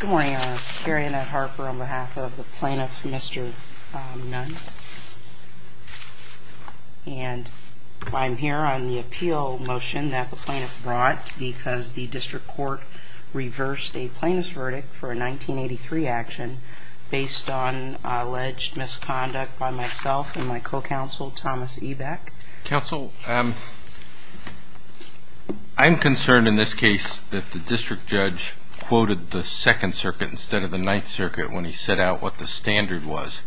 Good morning. I'm Carrie Annette Harper on behalf of the plaintiff, Mr. Nunn, and I'm here on the appeal motion that the plaintiff brought because the district court reversed a plaintiff's verdict for a 1983 action based on alleged misconduct by myself and my co-counsel, Thomas Eback. Counsel, I'm concerned in this case that the district judge quoted the Second Circuit instead of the Ninth Circuit when he set out what the standard was,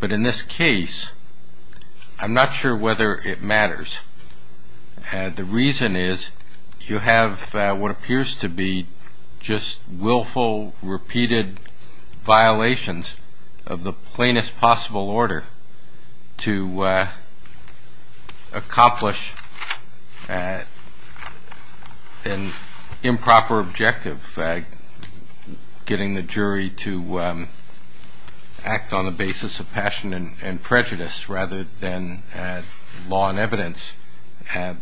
but in this case, I'm not sure whether it matters. The reason is you have what appears to be just willful, repeated violations of the plainest possible order to accomplish an improper objective, getting the jury to act on the basis of passion and prejudice rather than law and evidence. I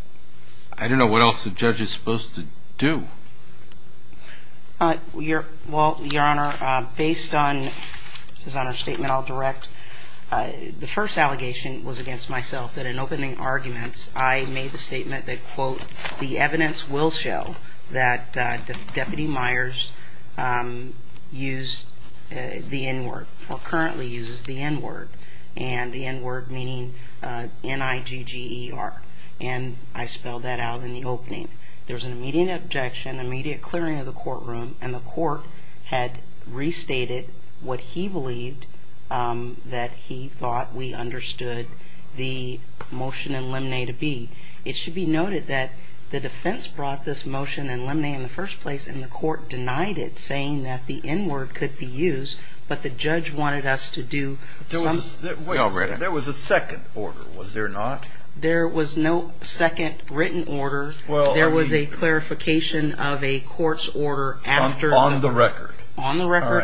don't know what else the judge is supposed to do. Your Honor, based on his statement, I'll direct. The first allegation was against myself that in opening arguments, I made the statement that, quote, the evidence will show that Deputy Myers used the N-word or currently uses the N-word and the N-word meaning N-I-G-G-E-R. And I spelled that out in the opening. There was an immediate objection, immediate clearing of the courtroom, and the court had restated what he believed that he thought we understood the motion in limine to be. It should be noted that the defense brought this motion in limine in the first place, and the court denied it, saying that the N-word could be used, but the judge wanted us to do something. There was a second order, was there not? There was no second written order. There was a clarification of a court's order on the record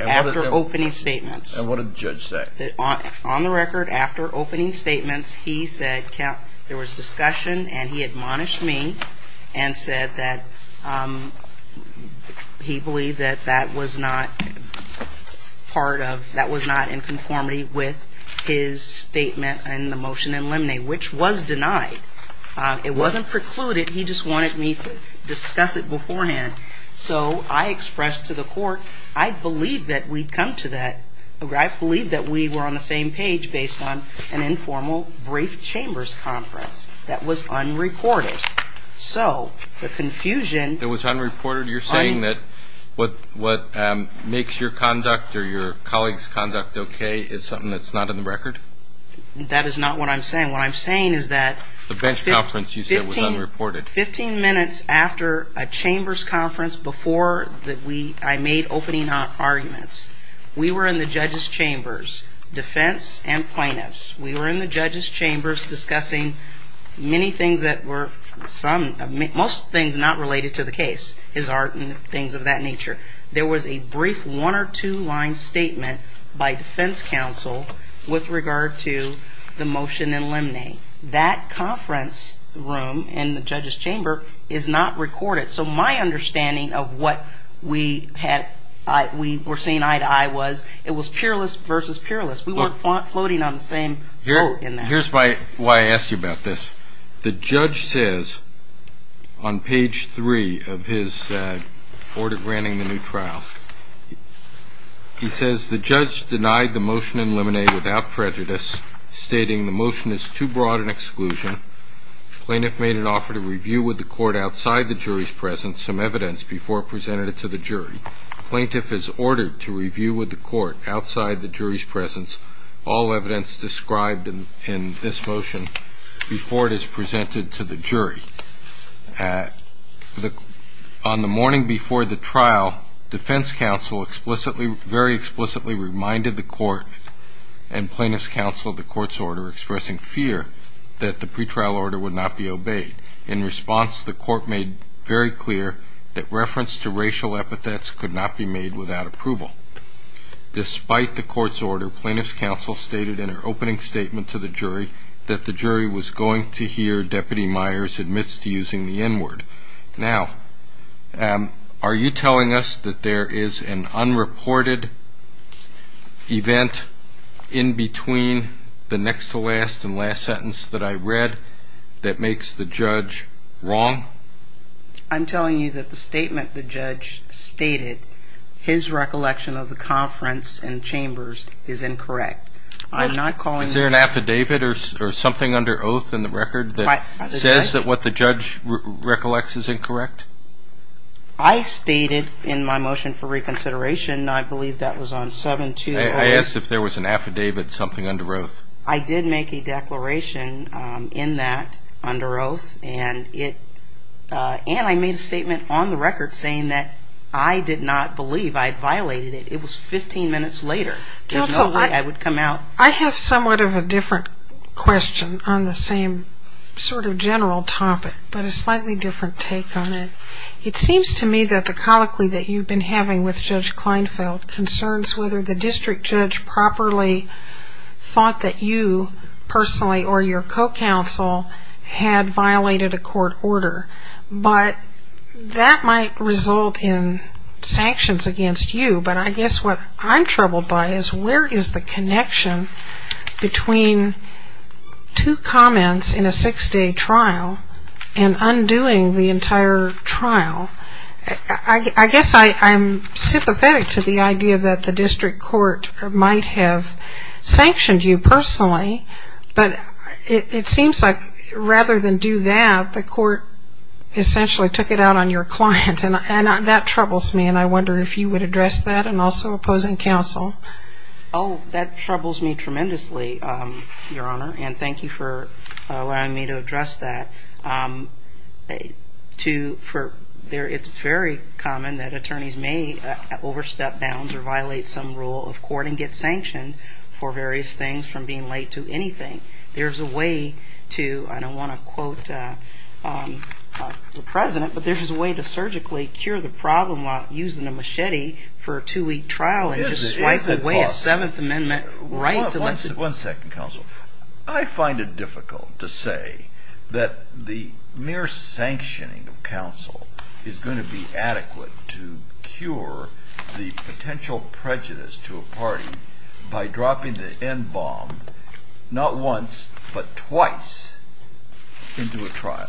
after opening statements. And what did the judge say? On the record after opening statements, he said there was discussion and he admonished me and said that he believed that that was not part of, that was not in conformity with his statement in the motion in limine, which was denied. It wasn't precluded. He just wanted me to discuss it beforehand. So I expressed to the court, I believed that we'd come to that, I believed that we were on the same page based on an informal brief chambers conference that was unreported. So the confusion... It was unreported? You're saying that what makes your conduct or your colleague's conduct okay is something that's not in the record? That is not what I'm saying. What I'm saying is that... The bench conference you said was unreported. Fifteen minutes after a chambers conference before I made opening arguments, we were in the judges chambers, defense and plaintiffs. We were in the judges chambers discussing many things that were some, most things not related to the case, things of that nature. There was a brief one or two line statement by defense counsel with regard to the motion in limine. That conference room in the judges chamber is not recorded. So my understanding of what we were saying eye to eye was, it was peerless versus peerless. We weren't floating on the same boat in that. Here's why I asked you about this. The judge says on page three of his order granting the new trial. He says the judge denied the motion in limine without prejudice, stating the motion is too broad an exclusion. Plaintiff made an offer to review with the court outside the jury's presence some evidence before presented it to the jury. Plaintiff is ordered to review with the court outside the jury's presence all evidence described in this motion before it is presented to the jury. On the morning before the trial, defense counsel explicitly, very explicitly reminded the court and plaintiff's counsel of the court's order expressing fear that the pretrial order would not be obeyed. In response, the court made very clear that reference to racial epithets could not be made without approval. Despite the court's order, plaintiff's counsel stated in her opening statement to the jury that the jury was going to hear Deputy Myers admits to using the N word. Now, are you telling us that there is an unreported event in between the next to last and last sentence that I read that makes the judge wrong? I'm telling you that the statement the judge stated, his recollection of the conference and chambers is incorrect. I'm not calling... Is there an affidavit or something under oath in the record that says that what the judge recollects is incorrect? I stated in my motion for reconsideration, I believe that was on 7-2... I asked if there was an affidavit, something under oath. I did make a declaration in that under oath, and I made a statement on the record saying that I did not believe I had violated it. It was 15 minutes later. There's no way I would come out... Counsel, I have somewhat of a different question on the same sort of general topic, but a slightly different take on it. It seems to me that the colloquy that you've been having with Judge Kleinfeld concerns whether the district judge properly thought that you personally or your co-counsel had violated a court order, but that might result in sanctions against you. But I guess what I'm troubled by is where is the connection between two comments in a six-day trial and undoing the entire trial? I guess I'm sympathetic to the idea that the district court might have sanctioned you personally, but it seems like rather than do that, the court essentially took it out on your client. And that troubles me, and I wonder if you would address that, and also opposing counsel. Oh, that troubles me tremendously, Your Honor, and thank you for allowing me to address that. It's very common that attorneys may overstep bounds or violate some rule of court and get sanctioned for various things from being late to anything. There's a way to, I don't want to quote the President, but there's a way to surgically cure the problem without using a machete for a two-week trial and just swipe away a Seventh Amendment right to listen. One second, counsel. I find it difficult to say that the mere sanctioning of counsel is going to be adequate to cure the potential prejudice to a party by dropping the NBOM not once but twice into a trial.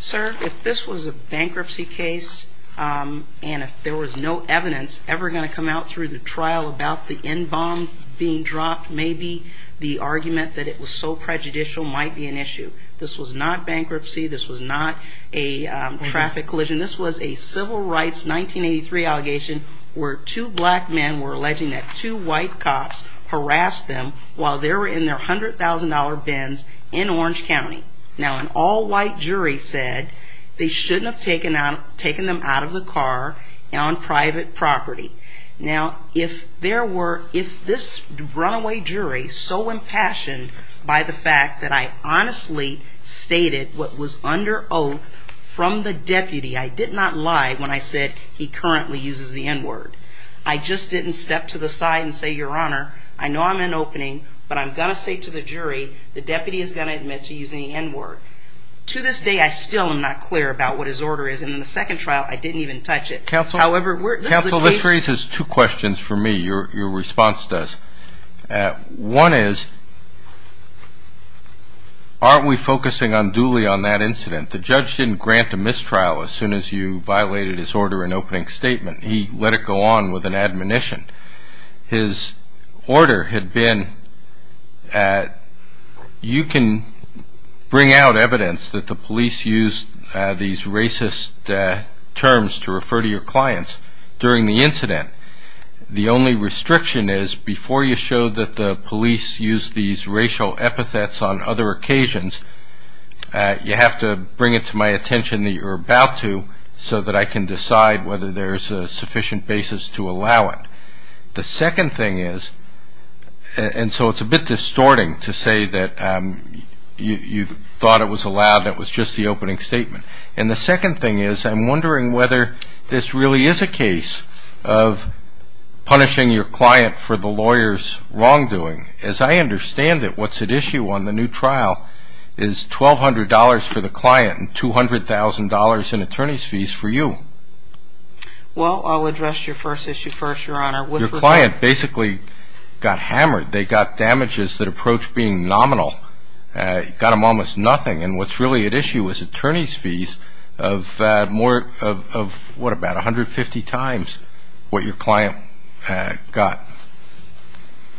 Sir, if this was a bankruptcy case and if there was no evidence ever going to come out through the trial about the NBOM being dropped, maybe the argument that it was so prejudicial might be an issue. This was not bankruptcy. This was not a traffic collision. This was a civil rights 1983 allegation where two black men were alleging that two white cops harassed them while they were in their $100,000 bins in Orange County. Now, an all-white jury said they shouldn't have taken them out of the car on private property. Now, if this runaway jury, so impassioned by the fact that I honestly stated what was under oath from the deputy, I did not lie when I said he currently uses the N-word. I just didn't step to the side and say, Your Honor, I know I'm in opening, but I'm going to say to the jury, the deputy is going to admit to using the N-word. To this day, I still am not clear about what his order is, and in the second trial, I didn't even touch it. Counsel, this raises two questions for me. Your response does. One is, aren't we focusing unduly on that incident? The judge didn't grant a mistrial as soon as you violated his order in opening statement. He let it go on with an admonition. His order had been, you can bring out evidence that the police used these racist terms to refer to your clients during the incident. The only restriction is, before you show that the police used these racial epithets on other occasions, you have to bring it to my attention that you're about to so that I can decide whether there's a sufficient basis to allow it. The second thing is, and so it's a bit distorting to say that you thought it was allowed and it was just the opening statement. And the second thing is, I'm wondering whether this really is a case of punishing your client for the lawyer's wrongdoing. As I understand it, what's at issue on the new trial is $1,200 for the client and $200,000 in attorney's fees for you. Well, I'll address your first issue first, Your Honor. Your client basically got hammered. They got damages that approach being nominal, got them almost nothing. And what's really at issue is attorney's fees of more of, what, about 150 times what your client got.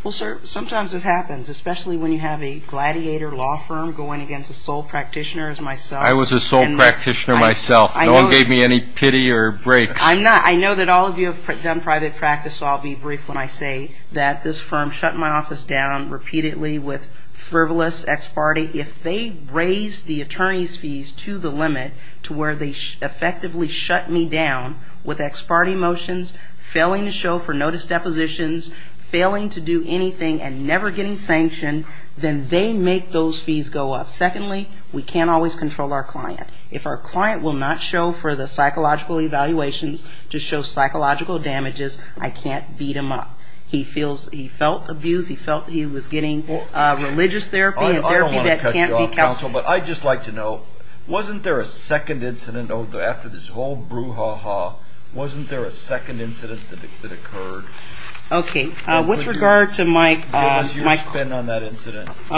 Well, sir, sometimes this happens, especially when you have a gladiator law firm going against a sole practitioner as myself. I was a sole practitioner myself. No one gave me any pity or breaks. I'm not. I know that all of you have done private practice, so I'll be brief when I say that this firm shut my office down repeatedly with frivolous ex parte. If they raise the attorney's fees to the limit to where they effectively shut me down with ex parte motions, failing to show for notice depositions, failing to do anything and never getting sanctioned, then they make those fees go up. Secondly, we can't always control our client. If our client will not show for the psychological evaluations to show psychological damages, I can't beat him up. He felt abuse. He felt he was getting religious therapy and therapy that can't be counseled. But I'd just like to know, wasn't there a second incident after this whole brouhaha, wasn't there a second incident that occurred? Okay. With regard to my co-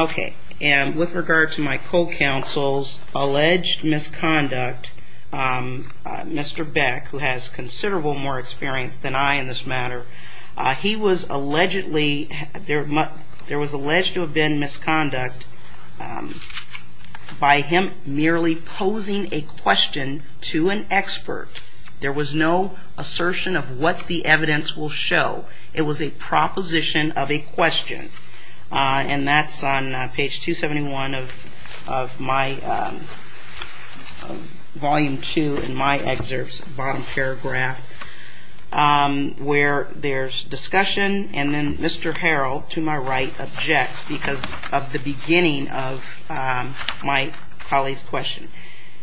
Okay. And with regard to my co-counsel's alleged misconduct, Mr. Beck, who has considerable more experience than I in this matter, he was allegedly, there was alleged to have been misconduct by him merely posing a question to an expert. There was no assertion of what the evidence will show. It was a proposition of a question. And that's on page 271 of my Volume 2 in my excerpts, bottom paragraph, where there's discussion and then Mr. Harrell, to my right, objects because of the beginning of my colleague's question.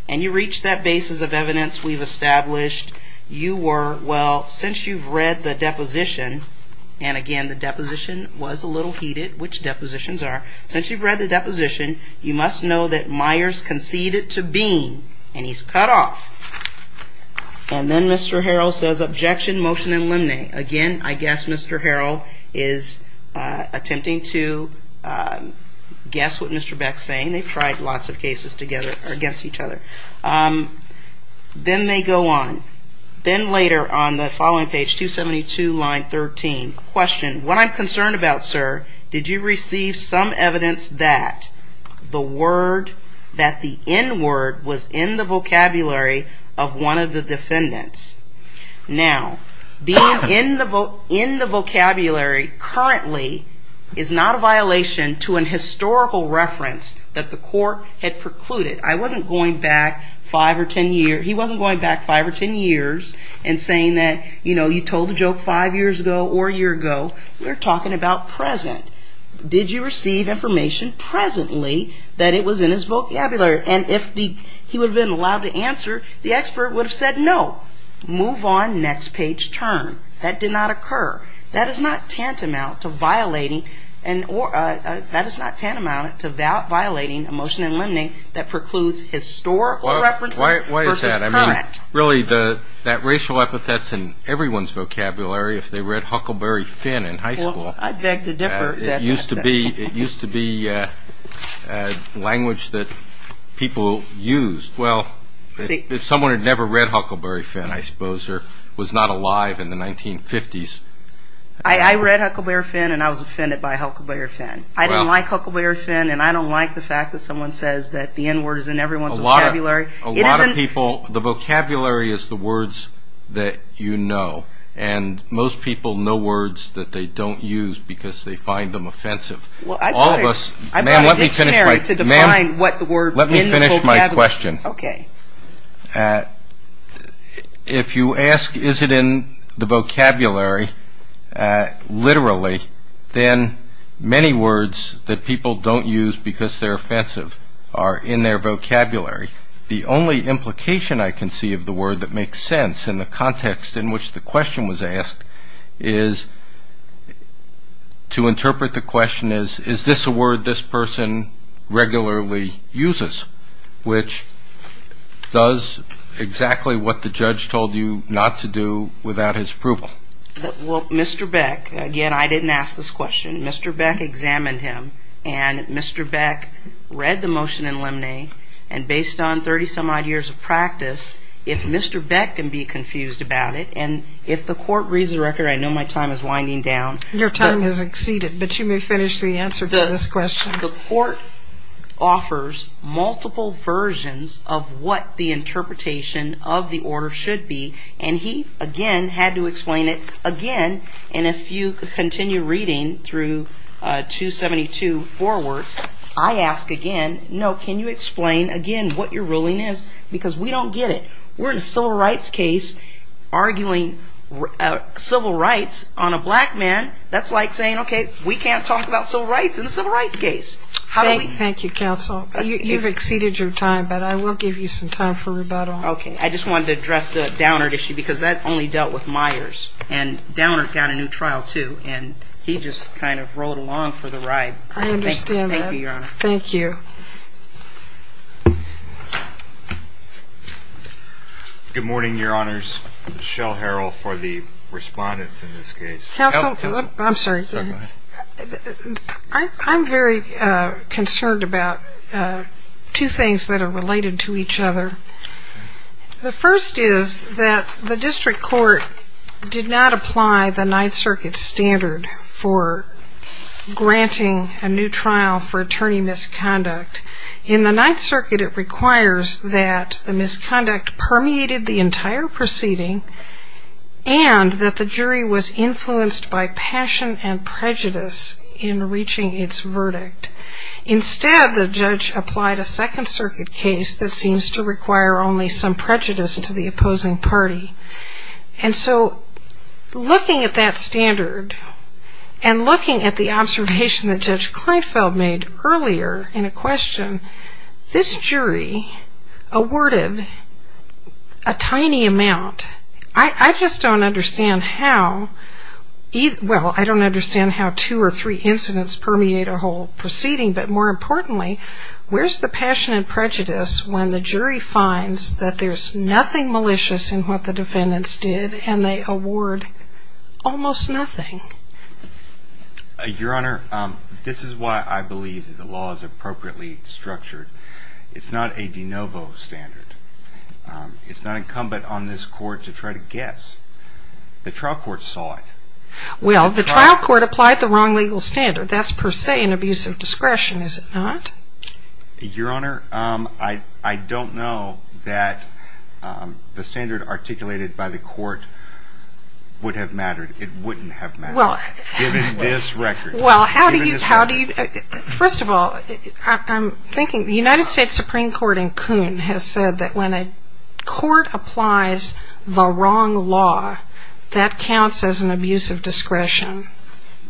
And you reach that basis of evidence we've established. You were, well, since you've read the deposition, and again, the deposition was a little heated, which depositions are, since you've read the deposition, you must know that Myers conceded to being, and he's cut off. And then Mr. Harrell says, objection, motion and limine. Again, I guess Mr. Harrell is attempting to guess what Mr. Beck's saying. They've tried lots of cases together against each other. Then they go on. Then later on the following page, 272, line 13, question, what I'm concerned about, sir, did you receive some evidence that the word, that the N-word was in the vocabulary of one of the defendants? Now, being in the vocabulary currently is not a violation to an historical reference that the court had precluded. I wasn't going back five or ten years. He wasn't going back five or ten years and saying that, you know, you told a joke five years ago or a year ago. We're talking about present. Did you receive information presently that it was in his vocabulary? And if he would have been allowed to answer, the expert would have said no. Move on, next page, turn. That did not occur. That is not tantamount to violating a motion and limine that precludes historical references versus current. Why is that? I mean, really, that racial epithet's in everyone's vocabulary if they read Huckleberry Finn in high school. Well, I beg to differ. It used to be language that people used. Well, if someone had never read Huckleberry Finn, I suppose, or was not alive in the 1950s. I read Huckleberry Finn, and I was offended by Huckleberry Finn. I didn't like Huckleberry Finn, and I don't like the fact that someone says that the N-word is in everyone's vocabulary. A lot of people, the vocabulary is the words that you know. And most people know words that they don't use because they find them offensive. All of us, ma'am, let me finish my question. If you ask, is it in the vocabulary, literally, then many words that people don't use because they're offensive are in their vocabulary. The only implication I can see of the word that makes sense in the context in which the question was asked is to interpret the question as, is this a word this person regularly uses, which does exactly what the judge told you not to do without his approval. Well, Mr. Beck, again, I didn't ask this question. Mr. Beck examined him, and Mr. Beck read the motion in limine, and based on 30-some-odd years of practice, if Mr. Beck can be confused about it, and if the court reads the record, I know my time is winding down. Your time has exceeded, but you may finish the answer to this question. The court offers multiple versions of what the interpretation of the order should be, and he, again, had to explain it again, and if you continue reading through 272 forward, I ask again, no, can you explain again what your ruling is, because we don't get it. We're in a civil rights case arguing civil rights on a black man. That's like saying, okay, we can't talk about civil rights in a civil rights case. Thank you, counsel. You've exceeded your time, but I will give you some time for rebuttal. Okay. I just wanted to address the Downard issue, because that only dealt with Myers, and Downard got a new trial, too, and he just kind of rolled along for the ride. I understand that. Thank you, Your Honor. Thank you. Good morning, Your Honors. Michelle Harrell for the respondents in this case. I'm very concerned about two things that are related to each other. The first is that the district court did not apply the Ninth Circuit standard for granting a new trial for attorney misconduct. In the Ninth Circuit, it requires that the misconduct permeated the entire proceeding and that the jury was influenced by passion and prejudice in reaching its verdict. Instead, the judge applied a Second Circuit case that seems to require only some prejudice to the opposing party, and so looking at that standard and looking at the observation that Judge Kleinfeld made earlier in a question, this jury awarded a tiny amount. I just don't understand how two or three incidents permeate a whole proceeding, but more importantly, where's the passion and prejudice when the jury finds that there's nothing malicious in what the defendants did and they award almost nothing? Your Honor, this is why I believe the law is appropriately structured. It's not a de novo standard. It's not incumbent on this court to try to guess. The trial court saw it. Well, the trial court applied the wrong legal standard. That's per se an abuse of discretion, is it not? Your Honor, I don't know that the standard articulated by the court would have mattered. It wouldn't have mattered given this record. First of all, I'm thinking the United States Supreme Court in Coon has said that when a court applies the wrong law, that counts as an abuse of discretion.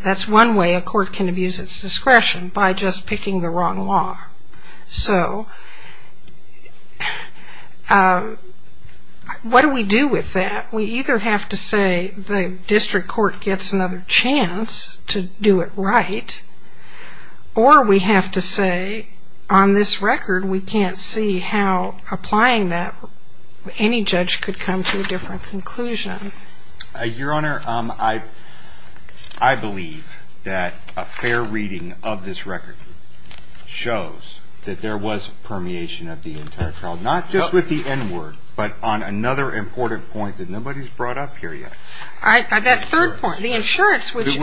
That's one way a court can abuse its discretion, by just picking the wrong law. So what do we do with that? We either have to say the district court gets another chance to do it right, or we have to say on this record we can't see how applying that, any judge could come to a different conclusion. Your Honor, I believe that a fair reading of this record shows that there was permeation of the entire trial, not just with the N word, but on another important point that nobody's brought up here yet. That third point, the insurance, which is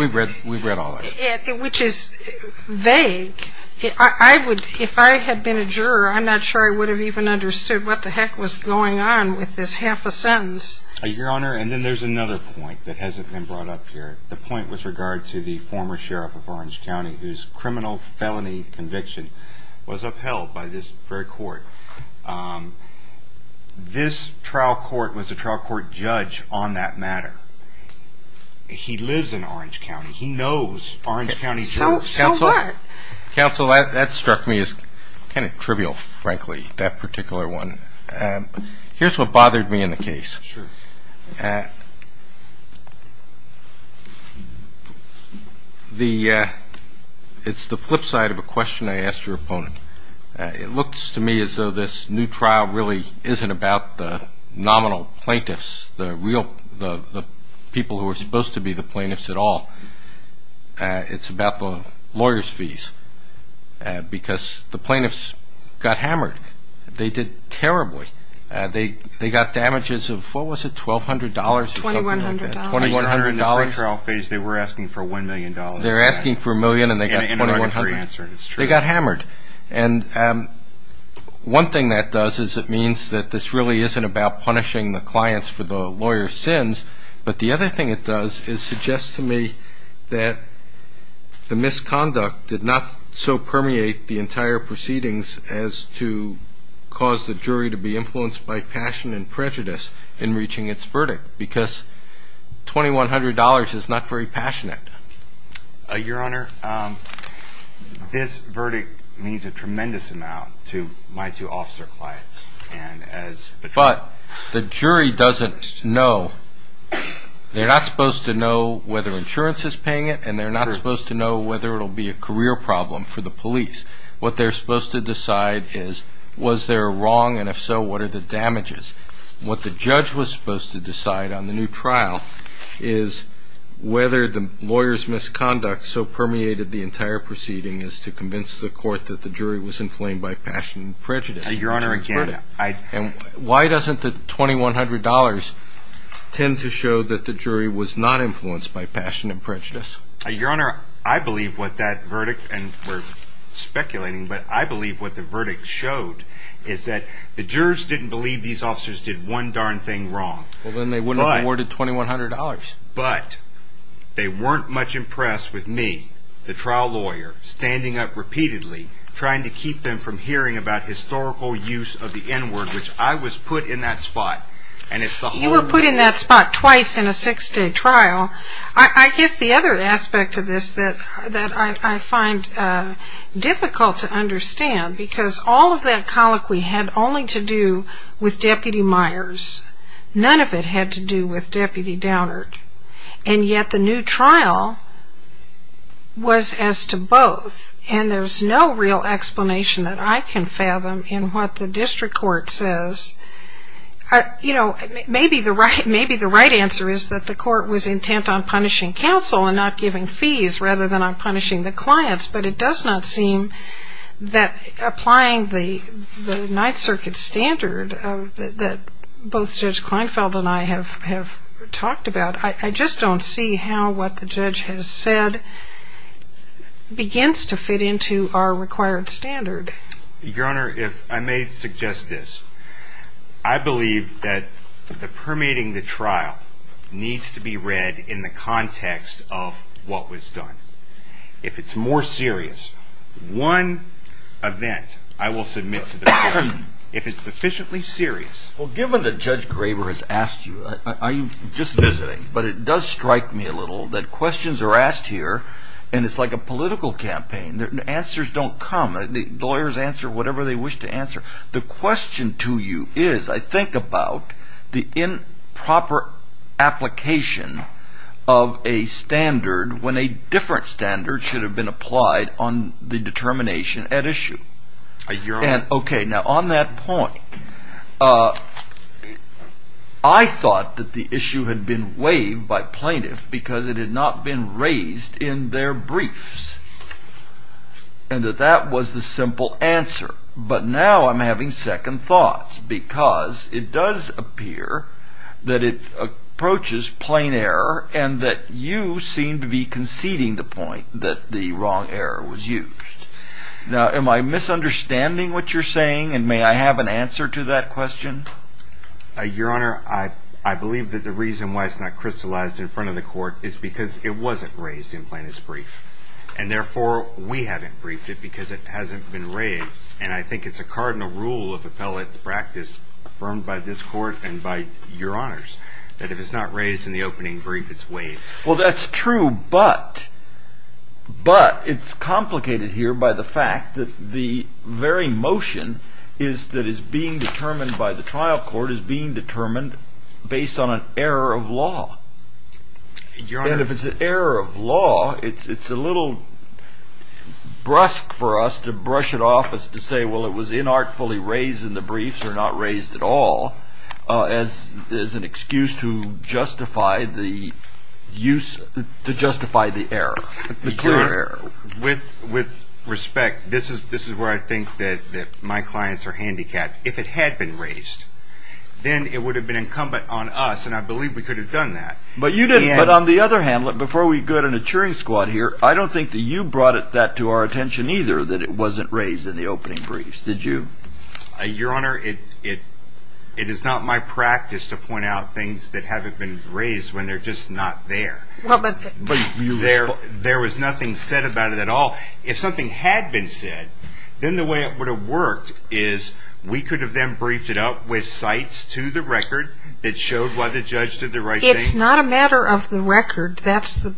vague. If I had been a juror, I'm not sure I would have even understood what the heck was going on with this half a sentence. Your Honor, and then there's another point that hasn't been brought up here. The point with regard to the former sheriff of Orange County, this trial court was a trial court judge on that matter. He lives in Orange County. He knows Orange County. Counsel, that struck me as kind of trivial, frankly, that particular one. Here's what bothered me in the case. It's the flip side of a question I asked your opponent. It looks to me as though this new trial really isn't about the nominal plaintiffs, the people who are supposed to be the plaintiffs at all. It's about the lawyers' fees because the plaintiffs got hammered. They did terribly. They got damages of, what was it, $1,200 or something like that. $2,100. $2,100. In the pre-trial phase, they were asking for $1 million. They were asking for a million and they got $2,100. They got hammered. And one thing that does is it means that this really isn't about punishing the clients for the lawyers' sins, but the other thing it does is suggest to me that the misconduct did not so permeate the entire proceedings as to cause the jury to be influenced by passion and prejudice in reaching its verdict because $2,100 is not very passionate. Your Honor, this verdict means a tremendous amount to my two officer clients. But the jury doesn't know. They're not supposed to know whether insurance is paying it and they're not supposed to know whether it will be a career problem for the police. What they're supposed to decide is was there wrong and, if so, what are the damages. What the judge was supposed to decide on the new trial is whether the lawyers' misconduct so permeated the entire proceeding as to convince the court that the jury was inflamed by passion and prejudice. Your Honor, again, I... And why doesn't the $2,100 tend to show that the jury was not influenced by passion and prejudice? Your Honor, I believe what that verdict, and we're speculating, but I believe what the verdict showed is that the jurors didn't believe these officers did one darn thing wrong. Well, then they wouldn't have awarded $2,100. But they weren't much impressed with me, the trial lawyer, standing up repeatedly trying to keep them from hearing about historical use of the N-word, which I was put in that spot, and it's the whole... You were put in that spot twice in a six-day trial. I guess the other aspect of this that I find difficult to understand, because all of that colloquy had only to do with Deputy Myers. None of it had to do with Deputy Downard. And yet the new trial was as to both, and there's no real explanation that I can fathom in what the district court says. You know, maybe the right answer is that the court was intent on punishing counsel and not giving fees rather than on punishing the clients, but it does not seem that applying the Ninth Circuit standard that both Judge Kleinfeld and I have talked about, I just don't see how what the judge has said begins to fit into our required standard. Your Honor, I may suggest this. I believe that the permitting the trial needs to be read in the context of what was done. If it's more serious, one event I will submit to the court. If it's sufficiently serious... Well, given that Judge Graber has asked you, I'm just visiting, but it does strike me a little that questions are asked here, and it's like a political campaign. Answers don't come. Lawyers answer whatever they wish to answer. The question to you is, I think, about the improper application of a standard when a different standard should have been applied on the determination at issue. Your Honor... Okay, now on that point, I thought that the issue had been waived by plaintiffs because it had not been raised in their briefs, and that that was the simple answer, but now I'm having second thoughts because it does appear that it approaches plain error and that you seem to be conceding the point that the wrong error was used. Now, am I misunderstanding what you're saying, and may I have an answer to that question? Your Honor, I believe that the reason why it's not crystallized in front of the court is because it wasn't raised in Plaintiff's brief, and therefore we haven't briefed it because it hasn't been raised, and I think it's a cardinal rule of appellate practice affirmed by this Court and by Your Honors that if it's not raised in the opening brief, it's waived. Well, that's true, but it's complicated here by the fact that the very motion that is being determined by the trial court is being determined based on an error of law. And if it's an error of law, it's a little brusque for us to brush it off as to say, well, it was inartfully raised in the briefs or not raised at all as an excuse to justify the error, the clear error. With respect, this is where I think that my clients are handicapped. If it had been raised, then it would have been incumbent on us, and I believe we could have done that. But on the other hand, before we go to the cheering squad here, I don't think that you brought that to our attention either, that it wasn't raised in the opening briefs, did you? Your Honor, it is not my practice to point out things that haven't been raised when they're just not there. There was nothing said about it at all. If something had been said, then the way it would have worked is we could have then briefed it up with cites to the record that showed why the judge did the right thing. It's not a matter of the record. That's the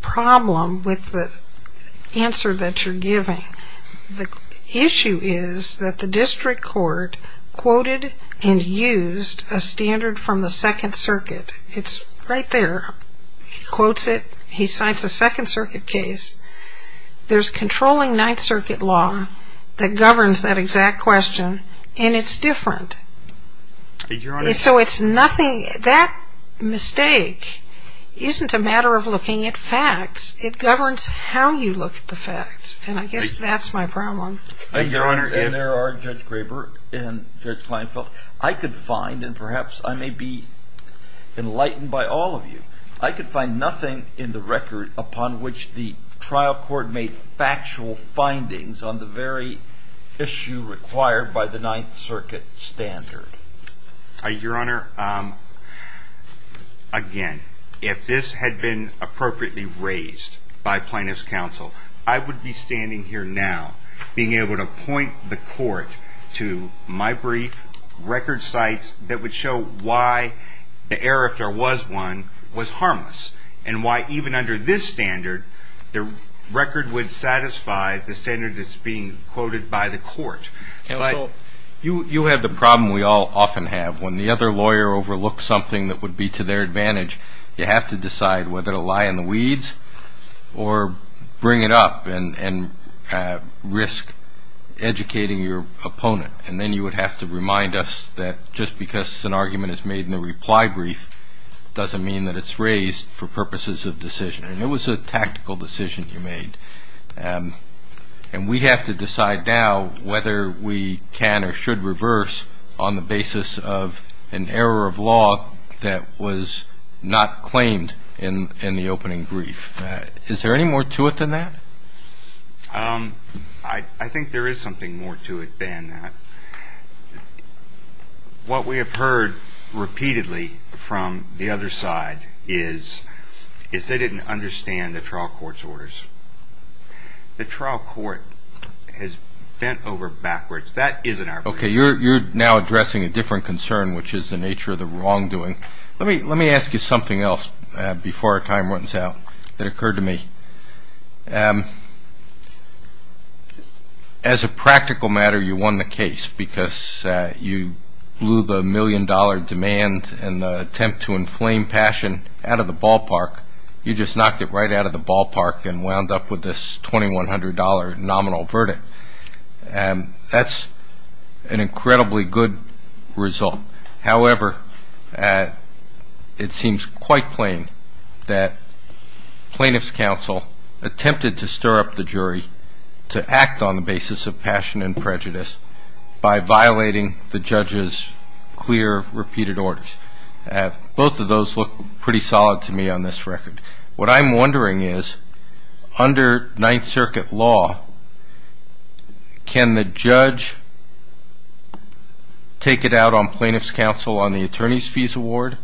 problem with the answer that you're giving. The issue is that the district court quoted and used a standard from the Second Circuit. It's right there. He quotes it. He cites a Second Circuit case. There's controlling Ninth Circuit law that governs that exact question, and it's different. So it's nothing. That mistake isn't a matter of looking at facts. It governs how you look at the facts, and I guess that's my problem. Thank you, Your Honor. And there are Judge Graber and Judge Kleinfeld. I could find, and perhaps I may be enlightened by all of you, I could find nothing in the record upon which the trial court made factual findings on the very issue required by the Ninth Circuit standard. Your Honor, again, if this had been appropriately raised by plaintiff's counsel, I would be standing here now being able to point the court to my brief record cites that would show why the error, if there was one, was harmless, and why even under this standard the record would satisfy the standard that's being quoted by the court. You have the problem we all often have. When the other lawyer overlooks something that would be to their advantage, you have to decide whether to lie in the weeds or bring it up and risk educating your opponent. And then you would have to remind us that just because an argument is made in the reply brief doesn't mean that it's raised for purposes of decision. And it was a tactical decision you made. And we have to decide now whether we can or should reverse on the basis of an error of law that was not claimed in the opening brief. Is there any more to it than that? I think there is something more to it than that. What we have heard repeatedly from the other side is they didn't understand the trial court's orders. The trial court has bent over backwards. That isn't our brief. Okay, you're now addressing a different concern, which is the nature of the wrongdoing. Let me ask you something else before our time runs out that occurred to me. As a practical matter, you won the case because you blew the million-dollar demand and the attempt to inflame passion out of the ballpark. You just knocked it right out of the ballpark and wound up with this $2,100 nominal verdict. That's an incredibly good result. However, it seems quite plain that plaintiff's counsel attempted to stir up the jury to act on the basis of passion and prejudice by violating the judge's clear, repeated orders. Both of those look pretty solid to me on this record. What I'm wondering is, under Ninth Circuit law, can the judge take it out on plaintiff's counsel on the attorney's fees award?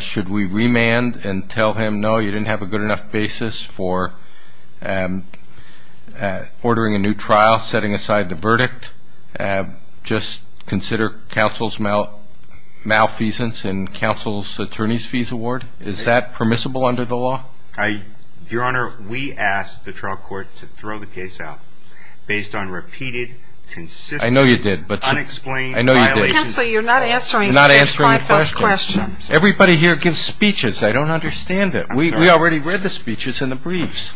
Should we remand and tell him, no, you didn't have a good enough basis for ordering a new trial, setting aside the verdict, just consider counsel's malfeasance in counsel's attorney's fees award? Is that permissible under the law? Your Honor, we asked the trial court to throw the case out based on repeated, consistent, unexplained violations of the law. I know you did. Counsel, you're not answering the first five questions. Everybody here gives speeches. I don't understand it. We already read the speeches in the briefs.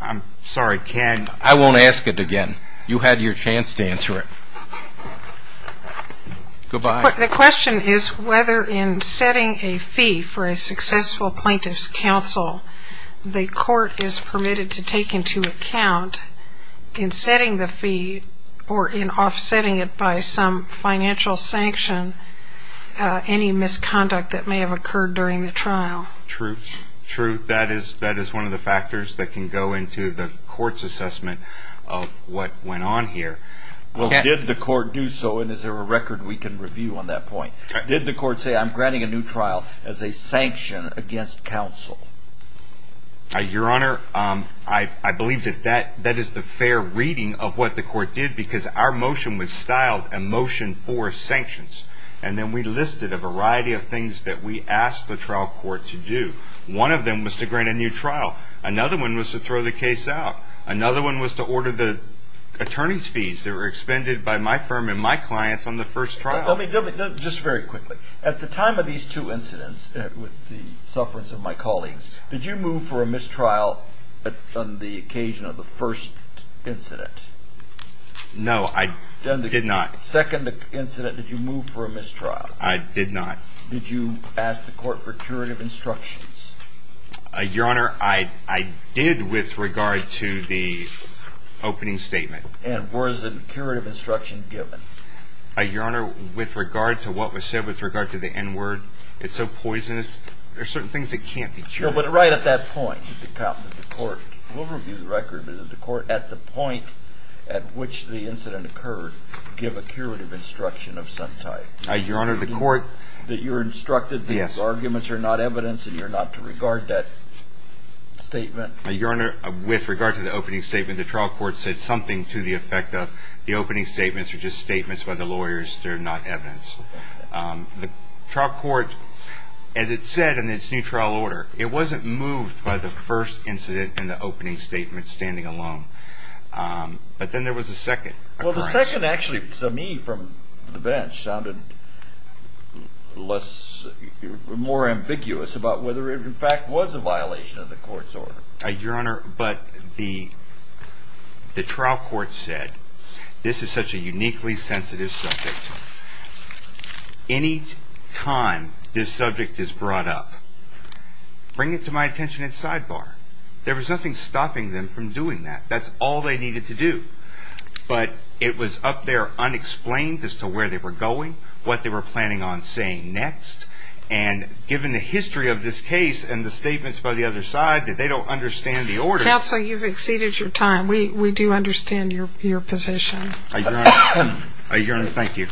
I'm sorry. I won't ask it again. You had your chance to answer it. Goodbye. The question is whether in setting a fee for a successful plaintiff's counsel, the court is permitted to take into account in setting the fee or in offsetting it by some financial sanction any misconduct that may have occurred during the trial. True. That is one of the factors that can go into the court's assessment of what went on here. Well, did the court do so, and is there a record we can review on that point? Did the court say, I'm granting a new trial as a sanction against counsel? Your Honor, I believe that that is the fair reading of what the court did because our motion was styled a motion for sanctions, and then we listed a variety of things that we asked the trial court to do. One of them was to grant a new trial. Another one was to throw the case out. Another one was to order the attorney's fees that were expended by my firm and my clients on the first trial. Let me just very quickly. At the time of these two incidents with the sufferance of my colleagues, did you move for a mistrial on the occasion of the first incident? No, I did not. Second incident, did you move for a mistrial? I did not. Did you ask the court for curative instructions? Your Honor, I did with regard to the opening statement. And was a curative instruction given? Your Honor, with regard to what was said, with regard to the N-word, it's so poisonous. There are certain things that can't be cured. No, but right at that point, did the court, we'll review the record, but did the court at the point at which the incident occurred give a curative instruction of some type? Your Honor, the court. The court that you instructed that these arguments are not evidence and you're not to regard that statement? Your Honor, with regard to the opening statement, the trial court said something to the effect of the opening statements are just statements by the lawyers. They're not evidence. The trial court, as it said in its new trial order, it wasn't moved by the first incident and the opening statement standing alone. But then there was a second. Well, the second actually, to me from the bench, sounded less, more ambiguous about whether it in fact was a violation of the court's order. Your Honor, but the trial court said this is such a uniquely sensitive subject. Any time this subject is brought up, bring it to my attention in sidebar. There was nothing stopping them from doing that. That's all they needed to do. But it was up there unexplained as to where they were going, what they were planning on saying next, and given the history of this case and the statements by the other side that they don't understand the order. Counsel, you've exceeded your time. We do understand your position. Your Honor, thank you.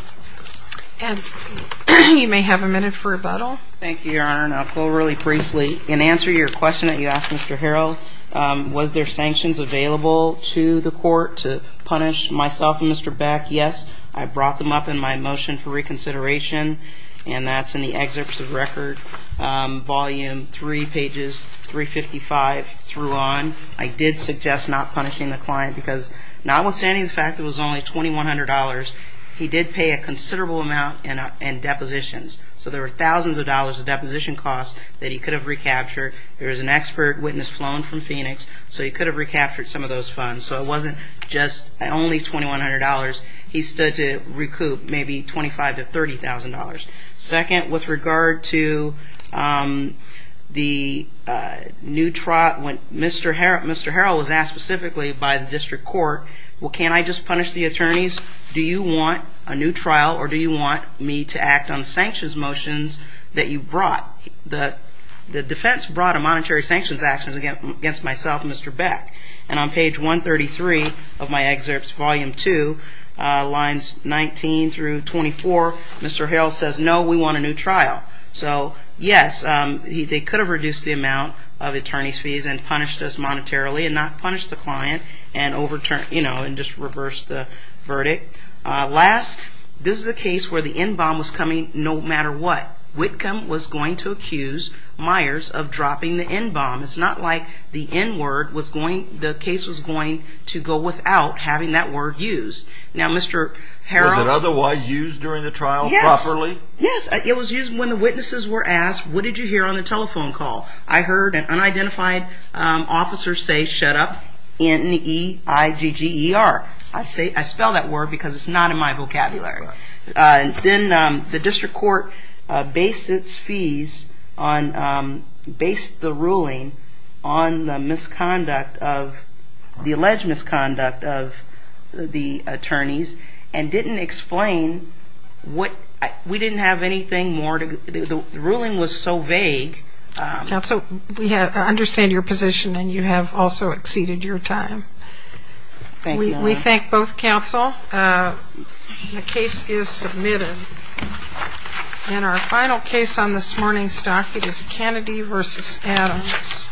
Ed, you may have a minute for rebuttal. Thank you, Your Honor, and I'll go really briefly. In answer to your question that you asked, Mr. Harrell, was there sanctions available to the court to punish myself and Mr. Beck? Yes. I brought them up in my motion for reconsideration, and that's in the excerpts of record, volume 3, pages 355 through on. I did suggest not punishing the client because notwithstanding the fact that it was only $2,100, he did pay a considerable amount in depositions. So there were thousands of dollars of deposition costs that he could have recaptured. There was an expert witness flown from Phoenix, so he could have recaptured some of those funds. So it wasn't just only $2,100. He stood to recoup maybe $25,000 to $30,000. Second, with regard to the new trial, when Mr. Harrell was asked specifically by the district court, well, can't I just punish the attorneys? Do you want a new trial, or do you want me to act on sanctions motions that you brought? The defense brought a monetary sanctions action against myself and Mr. Beck. And on page 133 of my excerpts, volume 2, lines 19 through 24, Mr. Harrell says, no, we want a new trial. So, yes, they could have reduced the amount of attorney's fees and punished us monetarily and not punish the client and overturned, you know, and just reversed the verdict. Last, this is a case where the NBOM was coming no matter what. Whitcomb was going to accuse Myers of dropping the NBOM. It's not like the N word was going, the case was going to go without having that word used. Now, Mr. Harrell. Was it otherwise used during the trial properly? Yes. Yes, it was used when the witnesses were asked, what did you hear on the telephone call? I heard an unidentified officer say, shut up, N-E-I-G-G-E-R. I spell that word because it's not in my vocabulary. Then the district court based its fees on, based the ruling on the misconduct of, the alleged misconduct of the attorneys and didn't explain what, we didn't have anything more to, the ruling was so vague. Counsel, we understand your position and you have also exceeded your time. Thank you, Your Honor. We thank both counsel. The case is submitted. And our final case on this morning's docket is Kennedy v. Adams.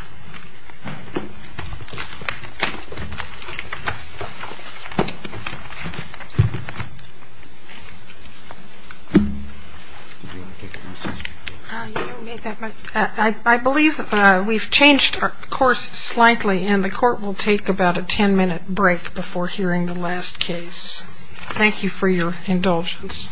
I believe we've changed our course slightly and the court will take about a 10 minute break before hearing the last case. Thank you for your indulgence.